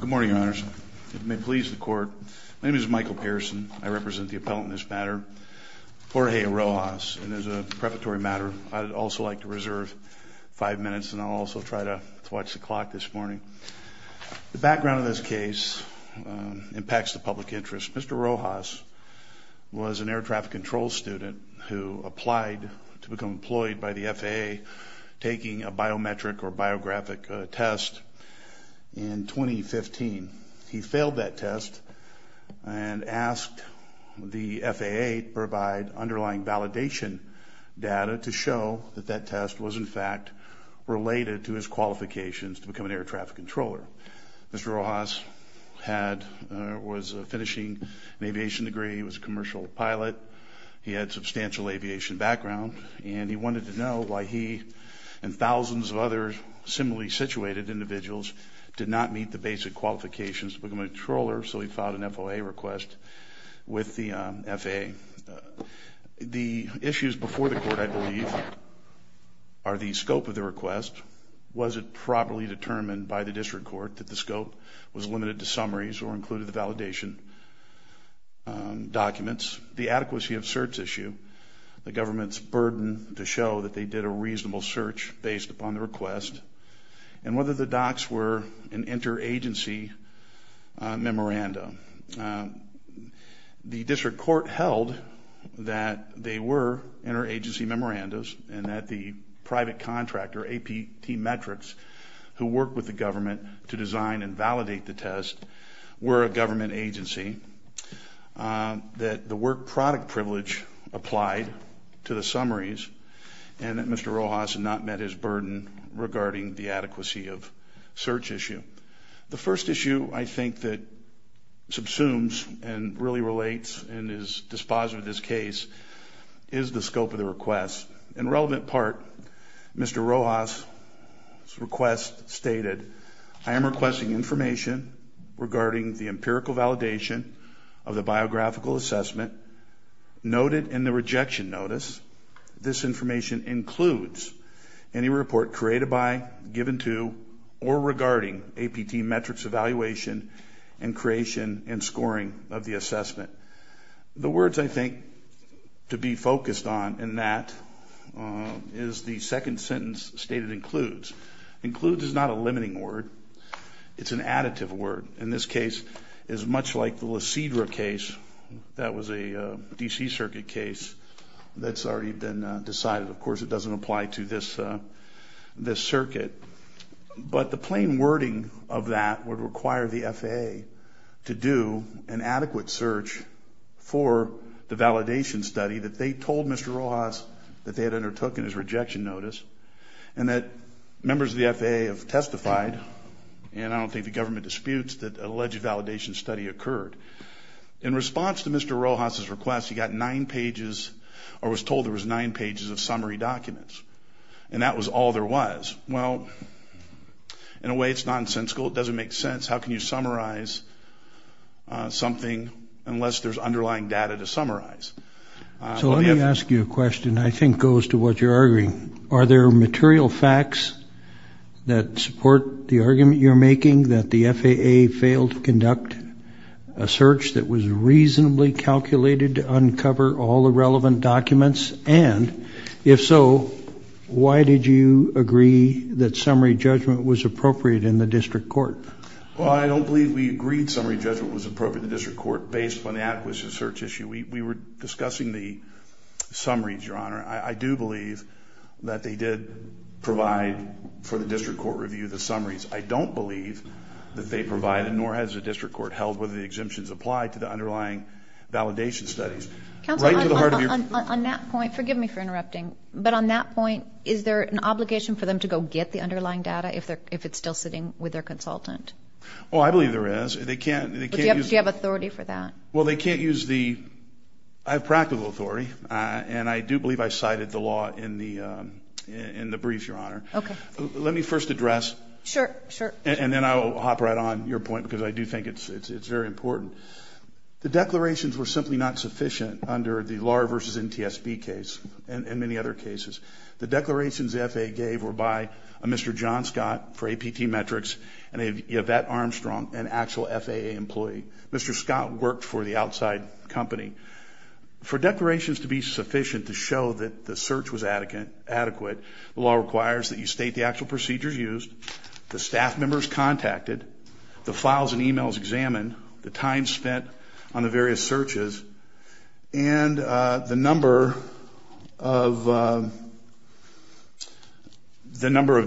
Good morning, your honors. It may please the court. My name is Michael Pearson. I represent the appellant in this matter, Jorge Rojas. And as a preparatory matter, I'd also like to reserve five minutes and I'll also try to watch the clock this morning. The background of this case impacts the public interest. Mr. Rojas was an air traffic control student who applied to become employed by the FAA taking a biometric or biographic test in 2015. He failed that test and asked the FAA to provide underlying validation data to show that that test was in fact related to his qualifications to become an air traffic controller. Mr. Rojas was finishing an aviation degree. He was a commercial pilot. He had substantial aviation background and he wanted to know why he and thousands of other similarly situated individuals did not meet the basic qualifications to become a controller, so he filed an FOA request with the FAA. The issues before the court, I believe, are the scope of the request. Was it properly determined by the district court that the scope was limited to summaries or included the validation documents? The adequacy of search issue. The government's burden to show that they did a reasonable search based upon the request. And whether the docs were an interagency memorandum. The district court held that they were interagency memorandums and that the private contractor, APT Metrics, who worked with the government to design and validate the test were a government agency. That the work product privilege applied to the summaries and that Mr. Rojas had not met his burden regarding the adequacy of search issue. The first issue I think that subsumes and really relates and is dispositive of this case is the scope of the request. In relevant part, Mr. Rojas' request stated, I am requesting information regarding the empirical validation of the biographical assessment noted in the rejection notice. This information includes any report created by, given to, or regarding APT Metrics evaluation and creation and scoring of the assessment. The words I think to be focused on in that is the second sentence stated includes. Includes is not a limiting word. It's an additive word. In this case, it's much like the Lacedra case that was a DC circuit case that's already been decided. Of course, it doesn't apply to this circuit. But the plain wording of that would require the FAA to do an adequate search for the validation study that they told Mr. Rojas that they had undertook in his rejection notice. And that members of the FAA have testified, and I don't think the government disputes, that alleged validation study occurred. In response to Mr. Rojas' request, he got nine pages or was told there was nine pages of summary documents. And that was all there was. Well, in a way, it's nonsensical. It doesn't make sense. How can you summarize something unless there's underlying data to summarize? So let me ask you a question that I think goes to what you're arguing. Are there material facts that support the argument you're making that the FAA failed to conduct a search that was reasonably calculated to uncover all the relevant documents? And if so, why did you agree that summary judgment was appropriate in the district court? Well, I don't believe we agreed summary judgment was appropriate in the district court based on the adequacy of the search issue. We were discussing the summaries, Your Honor. I do believe that they did provide for the district court review the summaries. I don't believe that they provided nor has the district court held whether the exemptions apply to the underlying validation studies. Counsel, on that point, forgive me for interrupting, but on that point, is there an obligation for them to go get the underlying data if it's still sitting with their consultant? Oh, I believe there is. They can't use... Do you have authority for that? Well, they can't use the... I have practical authority, and I do believe I cited the law in the brief, Your Honor. Okay. Let me first address... Sure, sure. And then I'll hop right on your point because I do think it's very important. The declarations were simply not sufficient under the LAR v. NTSB case and many other cases. The declarations the FAA gave were by a Mr. John Scott for APT Metrics and a Yvette Armstrong, an actual FAA employee. Mr. Scott worked for the outside company. For declarations to be sufficient to show that the search was adequate, the law requires that you state the actual procedures used, the staff members contacted, the files and e-mails examined, the time spent on the various searches, and the number of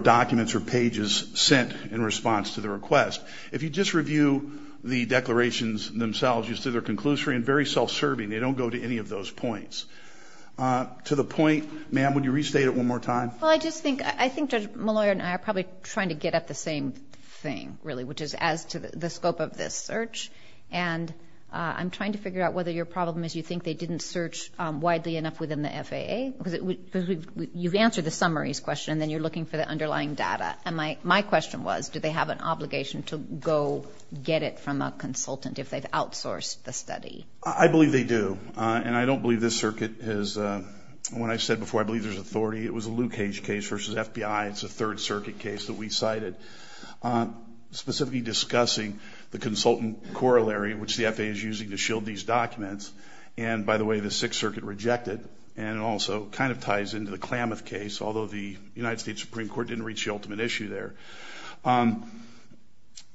documents or pages sent in response to the request. If you just review the declarations themselves, you see they're conclusory and very self-serving. They don't go to any of those points. To the point, ma'am, would you restate it one more time? Well, I just think Judge Molloy and I are probably trying to get at the same thing, really, which is as to the scope of this search. And I'm trying to figure out whether your problem is you think they didn't search widely enough within the FAA? Because you've answered the summaries question and then you're looking for the underlying data. And my question was, do they have an obligation to go get it from a consultant if they've outsourced the study? I believe they do. And I don't believe this circuit has ‑‑ when I said before, I believe there's authority. It was a Leukage case versus FBI. It's a Third Circuit case that we cited, specifically discussing the consultant corollary, which the FAA is using to shield these documents. And, by the way, the Sixth Circuit rejected. And it also kind of ties into the Klamath case, although the United States Supreme Court didn't reach the ultimate issue there.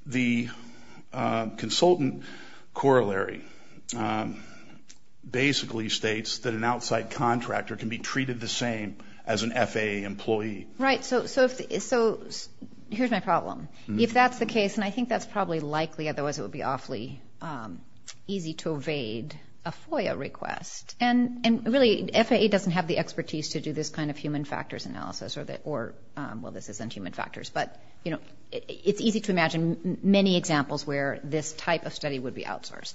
The consultant corollary basically states that an outside contractor can be treated the same as an FAA employee. Right. So here's my problem. If that's the case, and I think that's probably likely, otherwise it would be awfully easy to evade a FOIA request. And, really, FAA doesn't have the expertise to do this kind of human factors analysis or, well, this isn't human factors. But, you know, it's easy to imagine many examples where this type of study would be outsourced.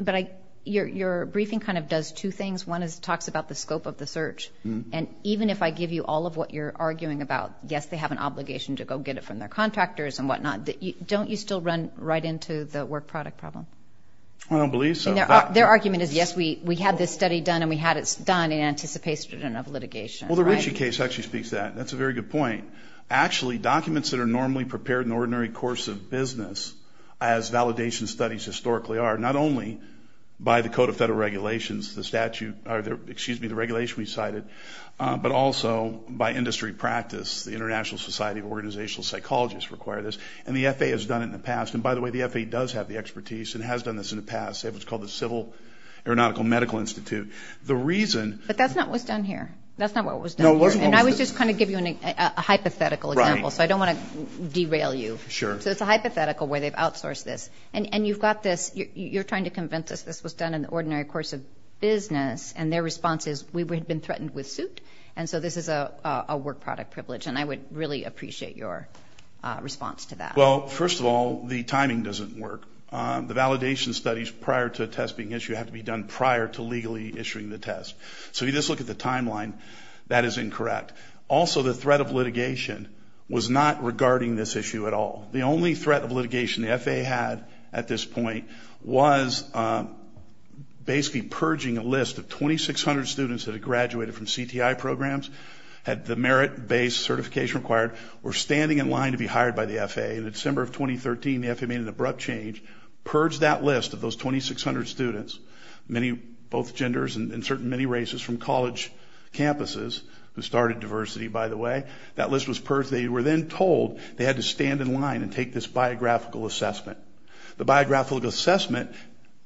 But your briefing kind of does two things. One is it talks about the scope of the search. And even if I give you all of what you're arguing about, yes, they have an obligation to go get it from their contractors and whatnot, don't you still run right into the work product problem? I don't believe so. Their argument is, yes, we had this study done, and we had it done in anticipation of litigation. Well, the Ritchie case actually speaks to that. That's a very good point. Actually, documents that are normally prepared in the ordinary course of business, as validation studies historically are, not only by the Code of Federal Regulations, the statute or, excuse me, the regulation we cited, but also by industry practice, the International Society of Organizational Psychologists require this. And the FAA has done it in the past. And, by the way, the FAA does have the expertise and has done this in the past. They have what's called the Civil Aeronautical Medical Institute. But that's not what's done here. That's not what was done here. And I was just trying to give you a hypothetical example, so I don't want to derail you. Sure. So it's a hypothetical where they've outsourced this. And you've got this. You're trying to convince us this was done in the ordinary course of business, and their response is, we had been threatened with suit, and so this is a work product privilege. And I would really appreciate your response to that. Well, first of all, the timing doesn't work. The validation studies prior to a test being issued have to be done prior to legally issuing the test. So if you just look at the timeline, that is incorrect. Also, the threat of litigation was not regarding this issue at all. The only threat of litigation the FAA had at this point was basically purging a list of 2,600 students that had graduated from CTI programs, had the merit-based certification required, were standing in line to be hired by the FAA. In December of 2013, the FAA made an abrupt change, purged that list of those 2,600 students, both genders and certainly many races from college campuses who started diversity, by the way. That list was purged. They were then told they had to stand in line and take this biographical assessment. The biographical assessment,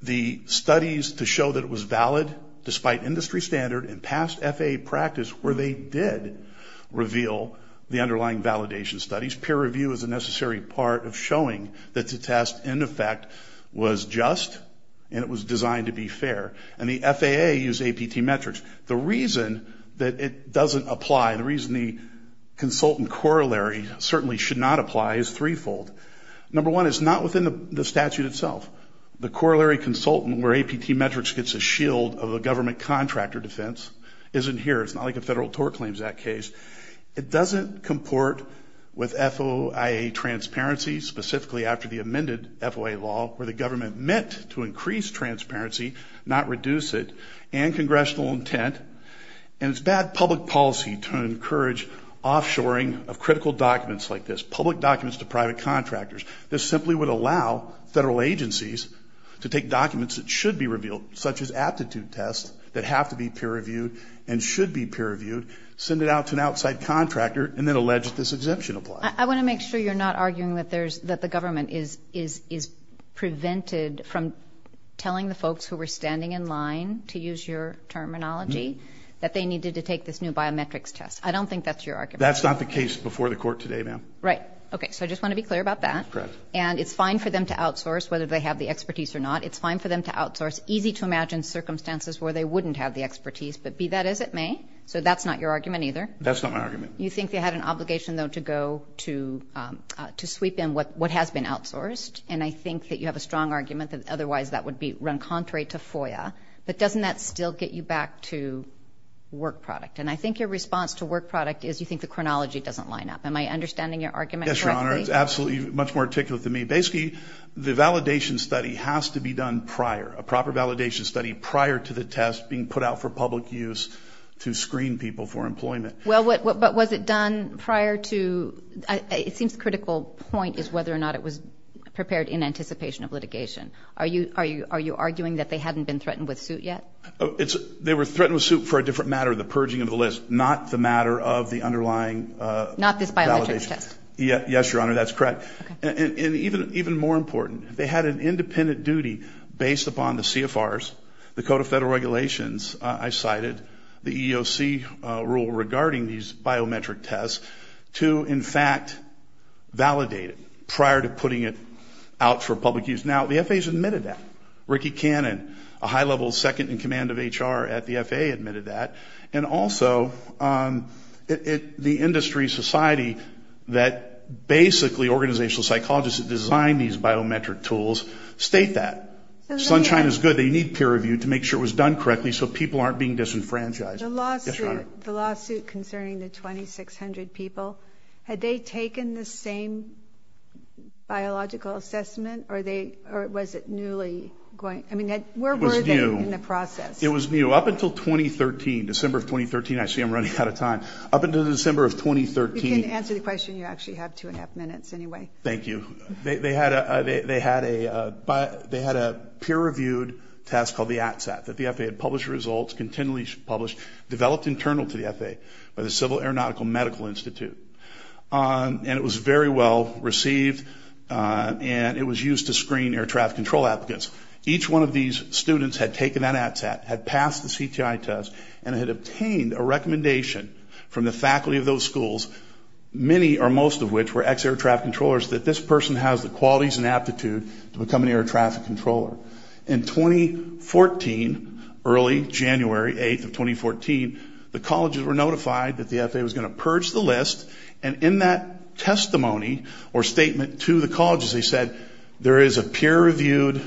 the studies to show that it was valid despite industry standard and past FAA practice where they did reveal the underlying validation studies, peer review is a necessary part of showing that the test, in effect, was just and it was designed to be fair. And the FAA used APT metrics. The reason that it doesn't apply, the reason the consultant corollary certainly should not apply is threefold. Number one, it's not within the statute itself. The corollary consultant where APT metrics gets a shield of a government contractor defense isn't here. It's not like a Federal Tort Claims Act case. It doesn't comport with FOIA transparency, specifically after the amended FOIA law where the government meant to increase transparency, not reduce it, and congressional intent. And it's bad public policy to encourage offshoring of critical documents like this, public documents to private contractors. This simply would allow federal agencies to take documents that should be revealed, such as aptitude tests that have to be peer reviewed and should be peer reviewed, send it out to an outside contractor, and then allege that this exemption applies. I want to make sure you're not arguing that the government is prevented from telling the folks who were standing in line, to use your terminology, that they needed to take this new biometrics test. I don't think that's your argument. That's not the case before the Court today, ma'am. Right. Okay. So I just want to be clear about that. Correct. And it's fine for them to outsource, whether they have the expertise or not. It's fine for them to outsource easy-to-imagine circumstances where they wouldn't have the expertise. But be that as it may, so that's not your argument either. That's not my argument. You think they had an obligation, though, to go to sweep in what has been outsourced, and I think that you have a strong argument that otherwise that would be run contrary to FOIA. But doesn't that still get you back to work product? And I think your response to work product is you think the chronology doesn't line up. Am I understanding your argument correctly? Yes, Your Honor. It's absolutely much more articulate than me. Basically, the validation study has to be done prior, a proper validation study prior to the test being put out for public use to screen people for employment. Well, but was it done prior to ñ it seems the critical point is whether or not it was prepared in anticipation of litigation. Are you arguing that they hadn't been threatened with suit yet? They were threatened with suit for a different matter, the purging of the list, not the matter of the underlying validation. Not this biometric test. Yes, Your Honor, that's correct. And even more important, they had an independent duty based upon the CFRs, the Code of Federal Regulations, I cited, the EEOC rule regarding these biometric tests to, in fact, validate it prior to putting it out for public use. Now, the FAs admitted that. Ricky Cannon, a high-level second-in-command of HR at the FAA, admitted that. And also, the industry society that basically organizational psychologists that design these biometric tools state that. Sunshine is good. They need peer review to make sure it was done correctly so people aren't being disenfranchised. The lawsuit concerning the 2,600 people, had they taken the same biological assessment or was it newly going ñ I mean, where were they in the process? It was new. It was new up until 2013, December of 2013. I see I'm running out of time. Up until December of 2013 ñ You can answer the question. You actually have two and a half minutes anyway. Thank you. They had a peer-reviewed test called the ATSAT that the FAA had published results, continually published, developed internal to the FAA by the Civil Aeronautical Medical Institute. And it was very well received, and it was used to screen air traffic control applicants. Each one of these students had taken that ATSAT, had passed the CTI test, and had obtained a recommendation from the faculty of those schools, many or most of which were ex-air traffic controllers, that this person has the qualities and aptitude to become an air traffic controller. In 2014, early January 8th of 2014, the colleges were notified that the FAA was going to purge the list. And in that testimony or statement to the colleges, they said there is a peer-reviewed,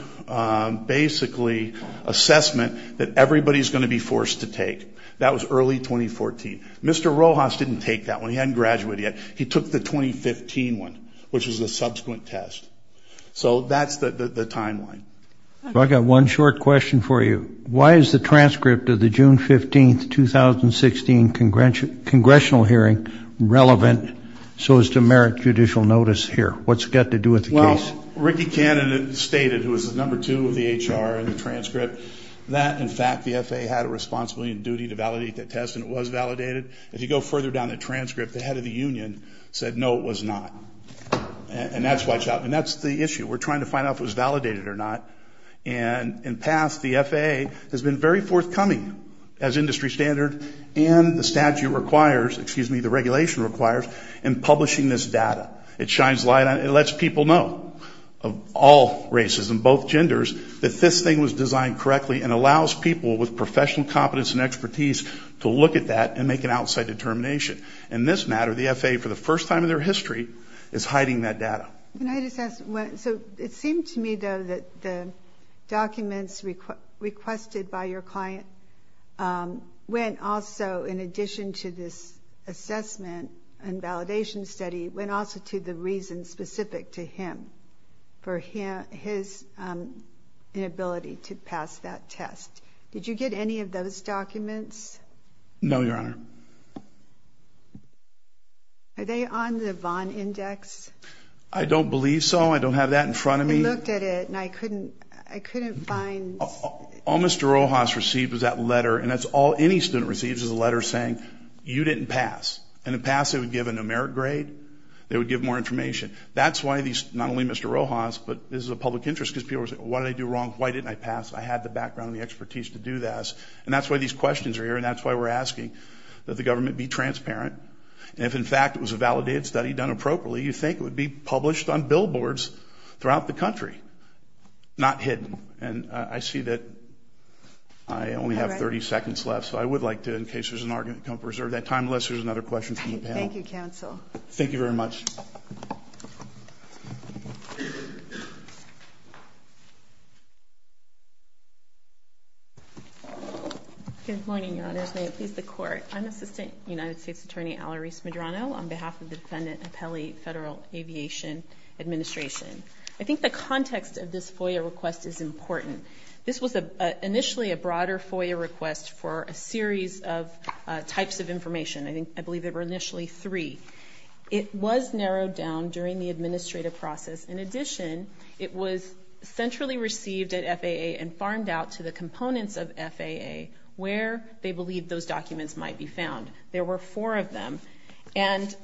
basically, assessment that everybody is going to be forced to take. That was early 2014. Mr. Rojas didn't take that one. He hadn't graduated yet. He took the 2015 one, which was the subsequent test. So that's the timeline. I've got one short question for you. Why is the transcript of the June 15th, 2016, congressional hearing relevant so as to merit judicial notice here? What's it got to do with the case? Well, Ricky Cannon stated, who was the number two of the HR in the transcript, that, in fact, the FAA had a responsibility and duty to validate that test, and it was validated. If you go further down the transcript, the head of the union said, no, it was not. And that's the issue. We're trying to find out if it was validated or not. And in the past, the FAA has been very forthcoming as industry standard and the statute requires, excuse me, the regulation requires, in publishing this data. It shines light on it. It lets people know of all races and both genders that this thing was designed correctly and allows people with professional competence and expertise to look at that and make an outside determination. In this matter, the FAA, for the first time in their history, is hiding that data. Can I just ask, so it seemed to me, though, that the documents requested by your client went also, in addition to this assessment and validation study, went also to the reason specific to him for his inability to pass that test. Did you get any of those documents? No, Your Honor. Are they on the Vaughn Index? I don't believe so. I don't have that in front of me. I looked at it and I couldn't find. All Mr. Rojas received was that letter. And that's all any student receives is a letter saying, you didn't pass. And to pass, they would give a numeric grade. They would give more information. That's why these, not only Mr. Rojas, but this is a public interest, because people are saying, what did I do wrong? Why didn't I pass? I had the background and the expertise to do this. And that's why these questions are here, and that's why we're asking that the government be transparent. And if, in fact, it was a validated study done appropriately, you'd think it would be published on billboards throughout the country, not hidden. And I see that I only have 30 seconds left, so I would like to, in case there's an argument, come preserve that time, unless there's another question from the panel. Thank you, counsel. Thank you very much. Good morning, Your Honors. May it please the Court. I'm Assistant United States Attorney Alarise Medrano, on behalf of the defendant, Appelli, Federal Aviation Administration. I think the context of this FOIA request is important. This was initially a broader FOIA request for a series of types of information. I believe there were initially three. It was narrowed down during the administrative process. In addition, it was centrally received at FAA and farmed out to the components of FAA where they believed those documents might be found. There were four of them. And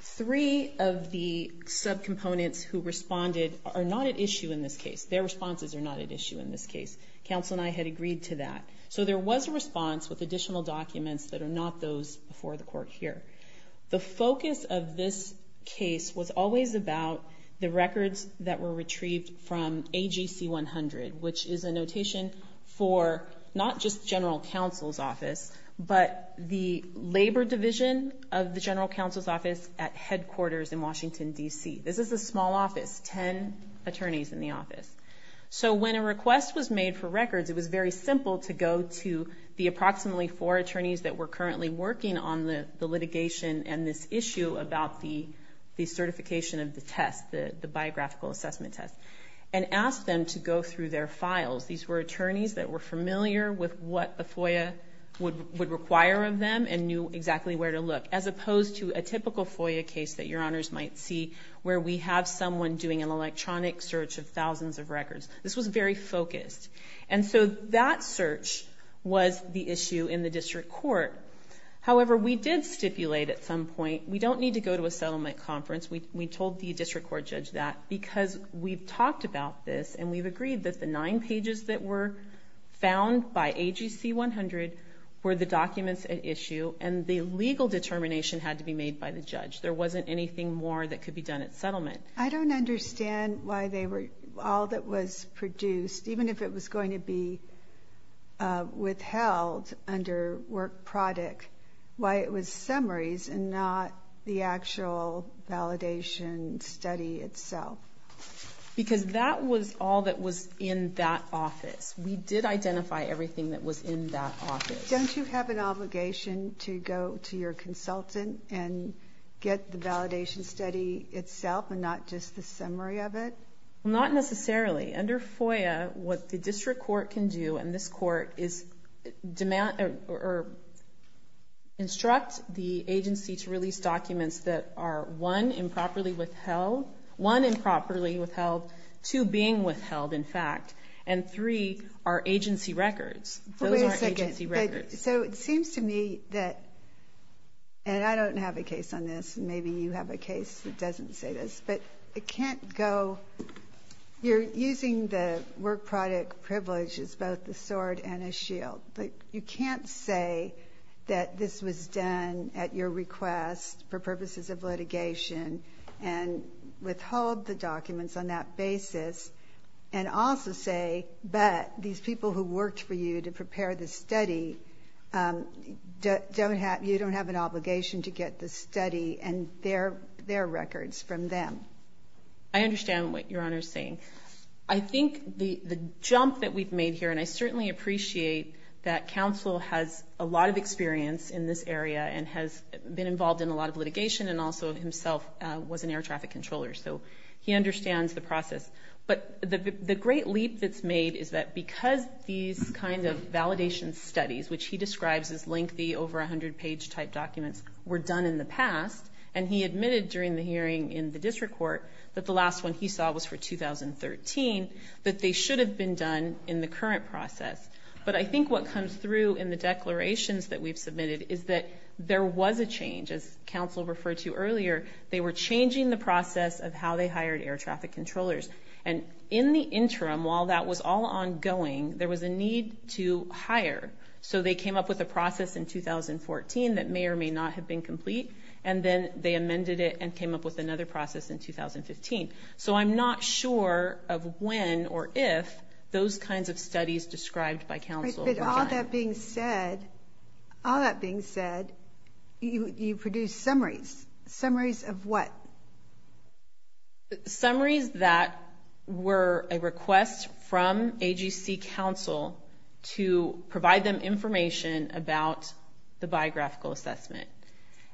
three of the subcomponents who responded are not at issue in this case. Their responses are not at issue in this case. Counsel and I had agreed to that. So there was a response with additional documents that are not those before the Court here. The focus of this case was always about the records that were retrieved from AGC 100, which is a notation for not just general counsel's office, but the labor division of the general counsel's office at headquarters in Washington, D.C. This is a small office, ten attorneys in the office. So when a request was made for records, it was very simple to go to the approximately four attorneys that were currently working on the litigation and this issue about the certification of the test, the biographical assessment test, and ask them to go through their files. These were attorneys that were familiar with what the FOIA would require of them and knew exactly where to look, as opposed to a typical FOIA case that your honors might see where we have someone doing an electronic search of thousands of records. This was very focused. And so that search was the issue in the district court. However, we did stipulate at some point we don't need to go to a settlement conference. We told the district court judge that because we've talked about this and we've agreed that the nine pages that were found by AGC 100 were the documents at issue and the legal determination had to be made by the judge. There wasn't anything more that could be done at settlement. I don't understand why all that was produced, even if it was going to be withheld under work product, why it was summaries and not the actual validation study itself. Because that was all that was in that office. We did identify everything that was in that office. But don't you have an obligation to go to your consultant and get the validation study itself and not just the summary of it? Not necessarily. Under FOIA, what the district court can do, and this court, is instruct the agency to release documents that are, one, improperly withheld, two, being withheld, in fact, and three, are agency records. Those are agency records. Wait a second. So it seems to me that, and I don't have a case on this, and maybe you have a case that doesn't say this, but it can't go. You're using the work product privilege as both a sword and a shield. You can't say that this was done at your request for purposes of litigation and withhold the documents on that basis and also say that these people who worked for you to prepare the study, you don't have an obligation to get the study and their records from them. I understand what Your Honor is saying. I think the jump that we've made here, and I certainly appreciate that counsel has a lot of experience in this area and has been involved in a lot of litigation and also himself was an air traffic controller, so he understands the process. But the great leap that's made is that because these kind of validation studies, which he describes as lengthy, over-100-page type documents, were done in the past, and he admitted during the hearing in the district court that the last one he saw was for 2013, that they should have been done in the current process. But I think what comes through in the declarations that we've submitted is that there was a change. As counsel referred to earlier, they were changing the process of how they hired air traffic controllers. And in the interim, while that was all ongoing, there was a need to hire. So they came up with a process in 2014 that may or may not have been complete, and then they amended it and came up with another process in 2015. So I'm not sure of when or if those kinds of studies described by counsel were done. All that being said, you produced summaries. Summaries of what? Summaries that were a request from AGC counsel to provide them information about the biographical assessment.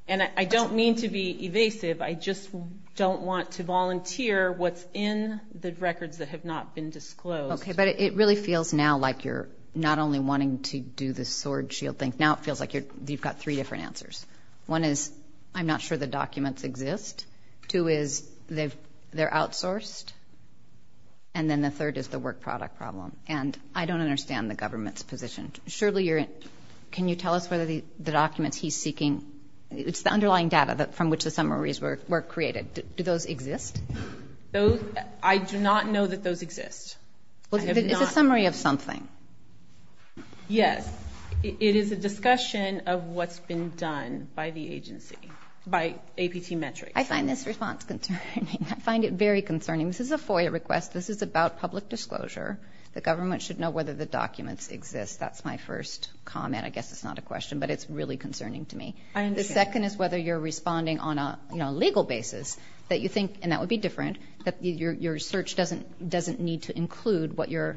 And I don't mean to be evasive. I just don't want to volunteer what's in the records that have not been disclosed. Okay, but it really feels now like you're not only wanting to do the sword shield thing. Now it feels like you've got three different answers. One is I'm not sure the documents exist. Two is they're outsourced. And then the third is the work product problem. And I don't understand the government's position. Shirley, can you tell us whether the documents he's seeking, it's the underlying data from which the summaries were created. Do those exist? I do not know that those exist. It's a summary of something. Yes. It is a discussion of what's been done by the agency, by APT Metrics. I find this response concerning. I find it very concerning. This is a FOIA request. This is about public disclosure. The government should know whether the documents exist. That's my first comment. I guess it's not a question, but it's really concerning to me. I understand. The second is whether you're responding on a legal basis that you think, and that would be different, that your search doesn't need to include what your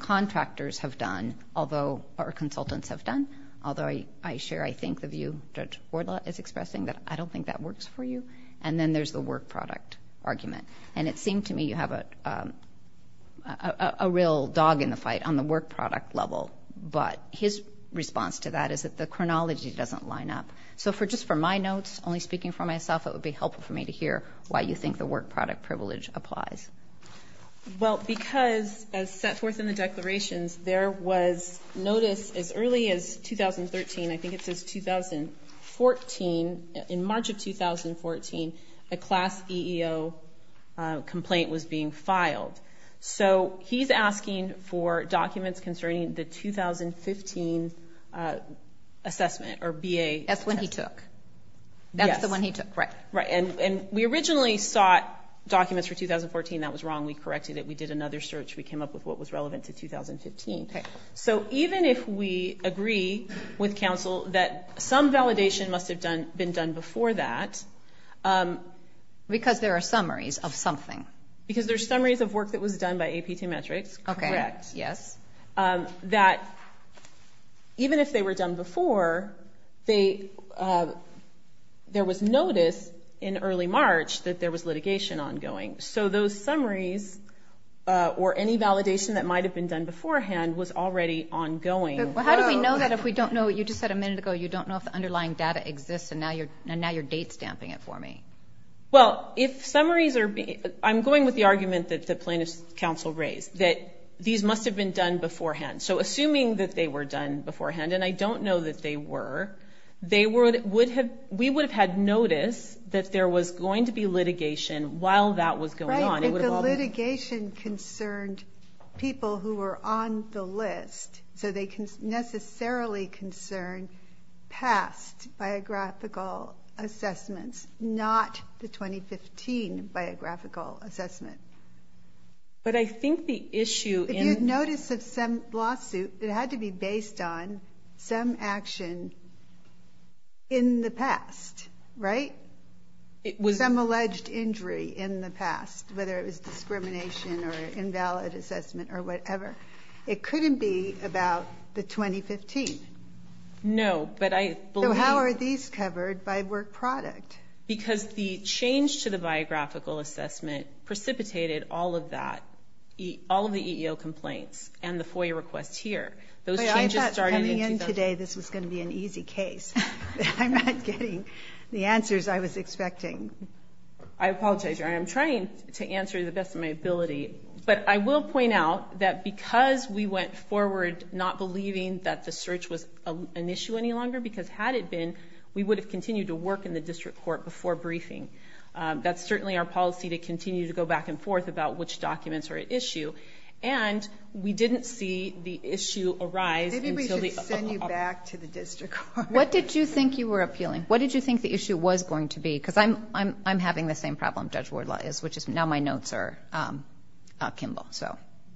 contractors have done, although our consultants have done, although I share, I think, the view Judge Wardlaw is expressing, that I don't think that works for you. And then there's the work product argument. And it seemed to me you have a real dog in the fight on the work product level. But his response to that is that the chronology doesn't line up. So just for my notes, only speaking for myself, it would be helpful for me to hear why you think the work product privilege applies. Well, because as set forth in the declarations, there was notice as early as 2013, I think it says 2014, in March of 2014, a class EEO complaint was being filed. So he's asking for documents concerning the 2015 assessment or BA. That's the one he took. Yes. That's the one he took, right. Right. And we originally sought documents for 2014. That was wrong. We corrected it. We did another search. We came up with what was relevant to 2015. Okay. So even if we agree with counsel that some validation must have been done before that. Because there are summaries of something. Because there are summaries of work that was done by APT Metrics. Correct. Yes. That even if they were done before, there was notice in early March that there was litigation ongoing. So those summaries or any validation that might have been done beforehand was already ongoing. How do we know that if we don't know, you just said a minute ago, you don't know if the underlying data exists and now your date's damping it for me? Well, if summaries are being, I'm going with the argument that the plaintiff's counsel raised, that these must have been done beforehand. So assuming that they were done beforehand, and I don't know that they were, we would have had notice that there was going to be litigation while that was going on. Right. But the litigation concerned people who were on the list. So they necessarily concern past biographical assessments, not the 2015 biographical assessment. But I think the issue in- If you had notice of some lawsuit, it had to be based on some action in the past, right? It was- Some alleged injury in the past, whether it was discrimination or invalid assessment or whatever. It couldn't be about the 2015. No, but I believe- So how are these covered by work product? Because the change to the biographical assessment precipitated all of that, all of the EEO complaints, and the FOIA requests here. Those changes started- I thought coming in today this was going to be an easy case. I'm not getting the answers I was expecting. I apologize. I am trying to answer to the best of my ability. But I will point out that because we went forward not believing that the search was an issue any longer, because had it been, we would have continued to work in the district court before briefing. That's certainly our policy, to continue to go back and forth about which documents are at issue. And we didn't see the issue arise until the- Maybe we should send you back to the district court. What did you think you were appealing? What did you think the issue was going to be? Because I'm having the same problem Judge Wardlaw is, which is now my notes are Kimball.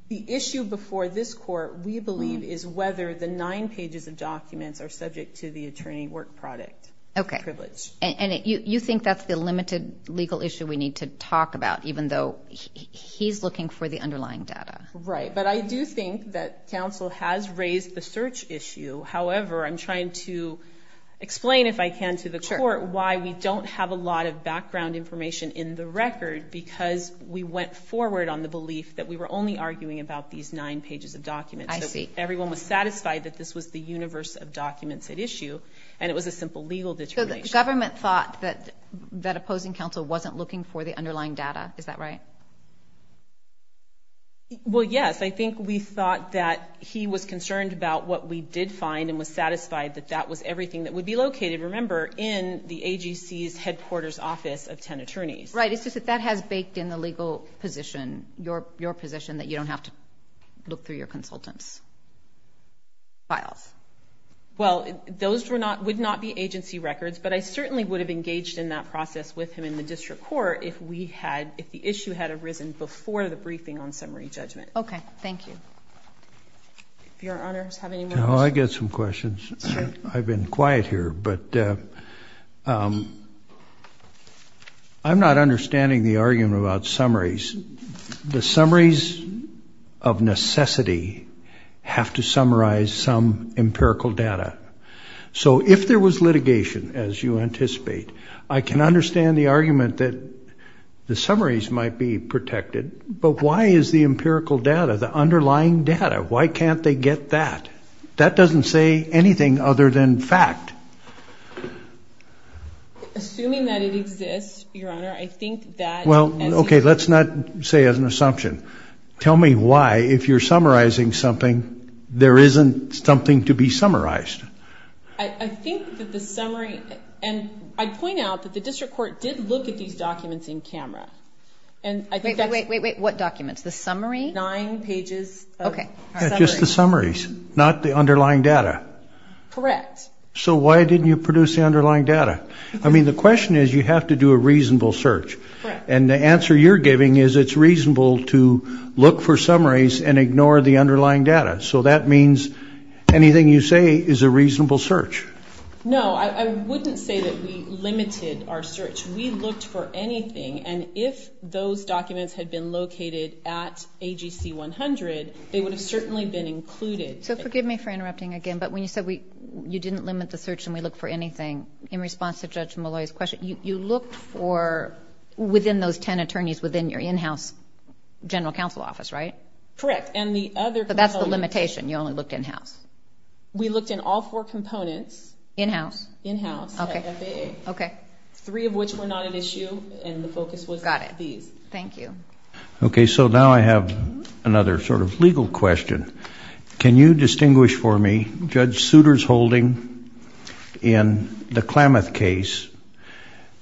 The issue before this court, we believe, is whether the nine pages of documents are subject to the attorney work product privilege. Okay. And you think that's the limited legal issue we need to talk about, even though he's looking for the underlying data? Right. But I do think that counsel has raised the search issue. However, I'm trying to explain, if I can, to the court, why we don't have a lot of background information in the record, because we went forward on the belief that we were only arguing about these nine pages of documents. I see. Everyone was satisfied that this was the universe of documents at issue, and it was a simple legal determination. So the government thought that opposing counsel wasn't looking for the underlying data. Is that right? Well, yes. I think we thought that he was concerned about what we did find and was satisfied that that was everything that would be located, remember, in the AGC's headquarters office of 10 attorneys. Right. It's just that that has baked in the legal position, your position, that you don't have to look through your consultants' files. Well, those would not be agency records, but I certainly would have engaged in that process with him in the district court if the issue had arisen before the briefing on summary judgment. Okay. Thank you. Do your honors have any more questions? No, I've got some questions. I've been quiet here. But I'm not understanding the argument about summaries. The summaries of necessity have to summarize some empirical data. So if there was litigation, as you anticipate, I can understand the argument that the summaries might be protected, but why is the empirical data, the underlying data, why can't they get that? That doesn't say anything other than fact. Assuming that it exists, your honor, I think that as you say. Well, okay, let's not say as an assumption. Tell me why, if you're summarizing something, there isn't something to be summarized. I think that the summary, and I'd point out that the district court did look at these documents in camera, and I think that's. Wait, wait, wait. What documents? The summary? Nine pages of summary. Okay. Just the summaries, not the underlying data. Correct. So why didn't you produce the underlying data? I mean, the question is you have to do a reasonable search. And the answer you're giving is it's reasonable to look for summaries and ignore the underlying data. So that means anything you say is a reasonable search. No, I wouldn't say that we limited our search. We looked for anything, and if those documents had been located at AGC 100, they would have certainly been included. So forgive me for interrupting again, but when you said you didn't limit the search and we looked for anything, in response to Judge Malloy's question, you looked for within those ten attorneys within your in-house general counsel office, right? Correct. But that's the limitation. You only looked in-house. We looked in all four components. In-house? In-house at FAA. Okay. Three of which were not an issue, and the focus was these. Got it. Thank you. Okay, so now I have another sort of legal question. Can you distinguish for me Judge Souter's holding in the Klamath case,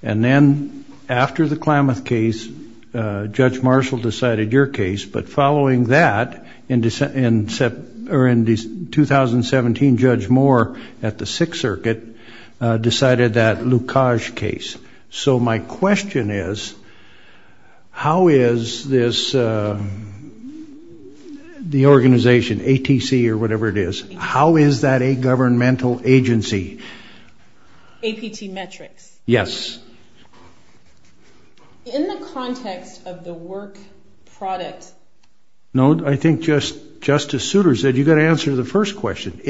and then after the Klamath case, Judge Marshall decided your case, but following that, in 2017, Judge Moore at the Sixth Circuit decided that Lukasz case. So my question is, how is this, the organization, ATC or whatever it is, how is that a governmental agency? APT Metrics. Yes. In the context of the work product. No, I think Justice Souter said you've got to answer the first question.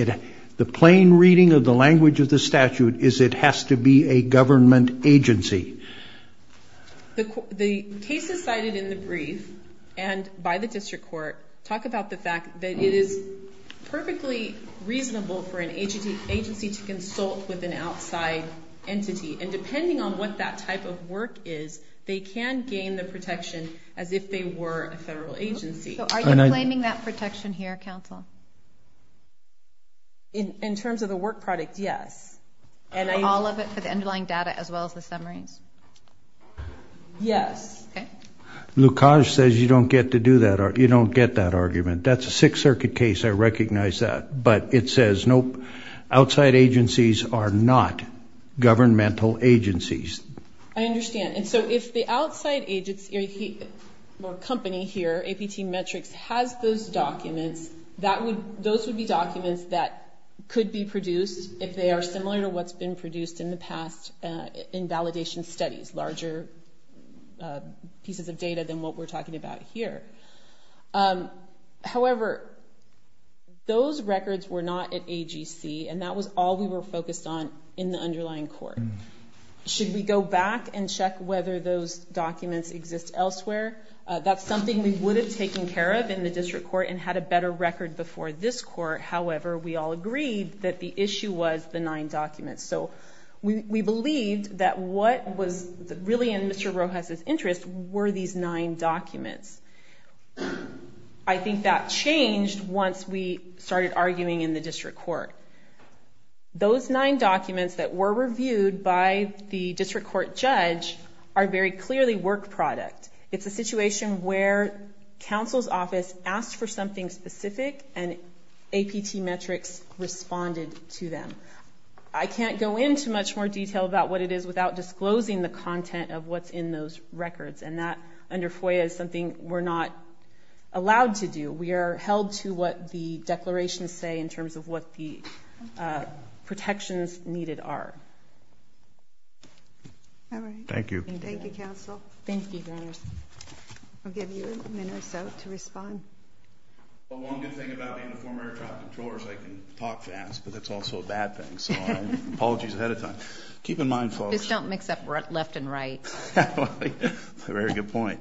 The plain reading of the language of the statute is it has to be a government agency. The cases cited in the brief and by the district court talk about the fact that it is perfectly reasonable for an agency to consult with an outside entity, and depending on what that type of work is, they can gain the protection as if they were a federal agency. So are you claiming that protection here, counsel? In terms of the work product, yes. All of it for the underlying data as well as the summaries? Yes. Okay. Lukasz says you don't get to do that, you don't get that argument. That's a Sixth Circuit case, I recognize that. But it says, nope, outside agencies are not governmental agencies. I understand. And so if the outside agency or company here, APT Metrics, has those documents, those would be documents that could be produced if they are similar to what's been produced in the past in validation studies, larger pieces of data than what we're talking about here. However, those records were not at AGC, and that was all we were focused on in the underlying court. Should we go back and check whether those documents exist elsewhere? That's something we would have taken care of in the district court and had a better record before this court. However, we all agreed that the issue was the nine documents. So we believed that what was really in Mr. Rojas's interest were these nine documents. I think that changed once we started arguing in the district court. Those nine documents that were reviewed by the district court judge are very clearly work product. It's a situation where counsel's office asked for something specific, and APT Metrics responded to them. I can't go into much more detail about what it is without disclosing the content of what's in those records. And that, under FOIA, is something we're not allowed to do. We are held to what the declarations say in terms of what the protections needed are. All right. Thank you. Thank you, counsel. Thank you, Your Honor. I'll give you a minute or so to respond. Well, one good thing about being a former air traffic controller is I can talk fast, but that's also a bad thing. So apologies ahead of time. Keep in mind, folks. Just don't mix up left and right. That's a very good point.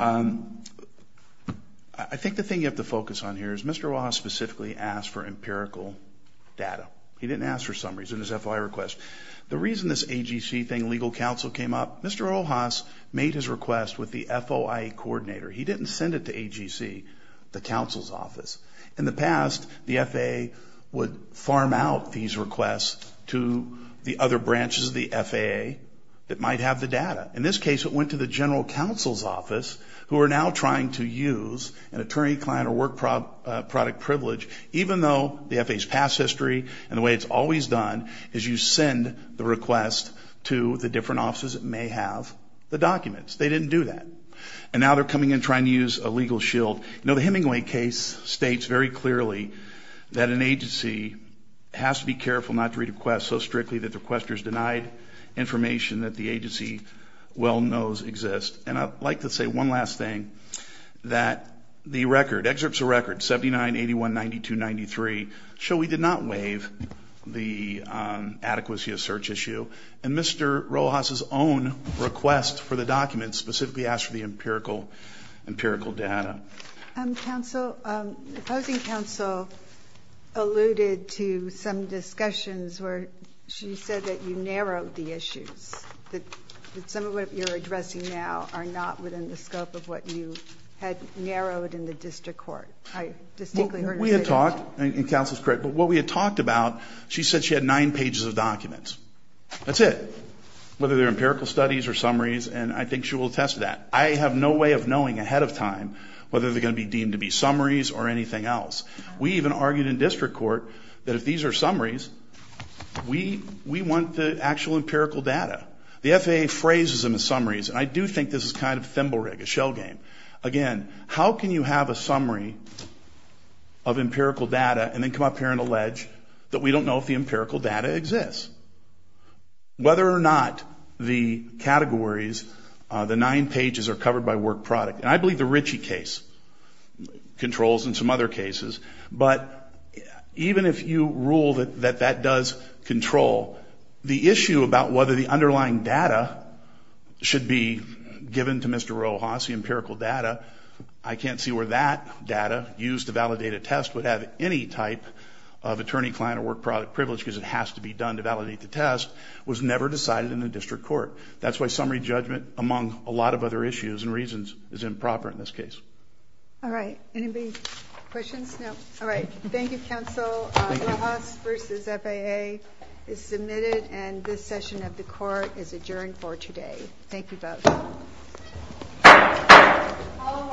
I think the thing you have to focus on here is Mr. Ojas specifically asked for empirical data. He didn't ask for summaries in his FOIA request. The reason this AGC thing, legal counsel, came up, Mr. Ojas made his request with the FOIA coordinator. He didn't send it to AGC, the counsel's office. In the past, the FAA would farm out these requests to the other branches of the FAA that might have the data. In this case, it went to the general counsel's office who are now trying to use an attorney, client, or work product privilege, even though the FAA's past history and the way it's always done is you send the request to the different offices that may have the documents. They didn't do that. And now they're coming in trying to use a legal shield. You know, the Hemingway case states very clearly that an agency has to be careful not to read a request so strictly that the requester's denied information that the agency well knows exists. And I'd like to say one last thing, that the record, excerpts of record 79, 81, 92, 93, show we did not waive the adequacy of search issue. And Mr. Rojas' own request for the documents specifically asked for the empirical data. Counsel, the opposing counsel alluded to some discussions where she said that you narrowed the issues, that some of what you're addressing now are not within the scope of what you had narrowed in the district court. I distinctly heard her say that. We had talked, and counsel is correct, but what we had talked about, she said she had nine pages of documents. That's it, whether they're empirical studies or summaries, and I think she will attest to that. I have no way of knowing ahead of time whether they're going to be deemed to be summaries or anything else. We even argued in district court that if these are summaries, we want the actual empirical data. The FAA phrases them as summaries, and I do think this is kind of a thimble rig, a shell game. Again, how can you have a summary of empirical data and then come up here and allege that we don't know if the empirical data exists? Whether or not the categories, the nine pages are covered by work product, and I believe the Ritchie case controls and some other cases, but even if you rule that that does control, the issue about whether the underlying data should be given to Mr. Rojas, the empirical data, I can't see where that data used to validate a test would have any type of attorney-client or work product privilege because it has to be done to validate the test, was never decided in the district court. That's why summary judgment, among a lot of other issues and reasons, is improper in this case. All right. Anybody have questions? No. All right. Thank you, counsel. Rojas versus FAA is submitted, and this session of the court is adjourned for today. Thank you both.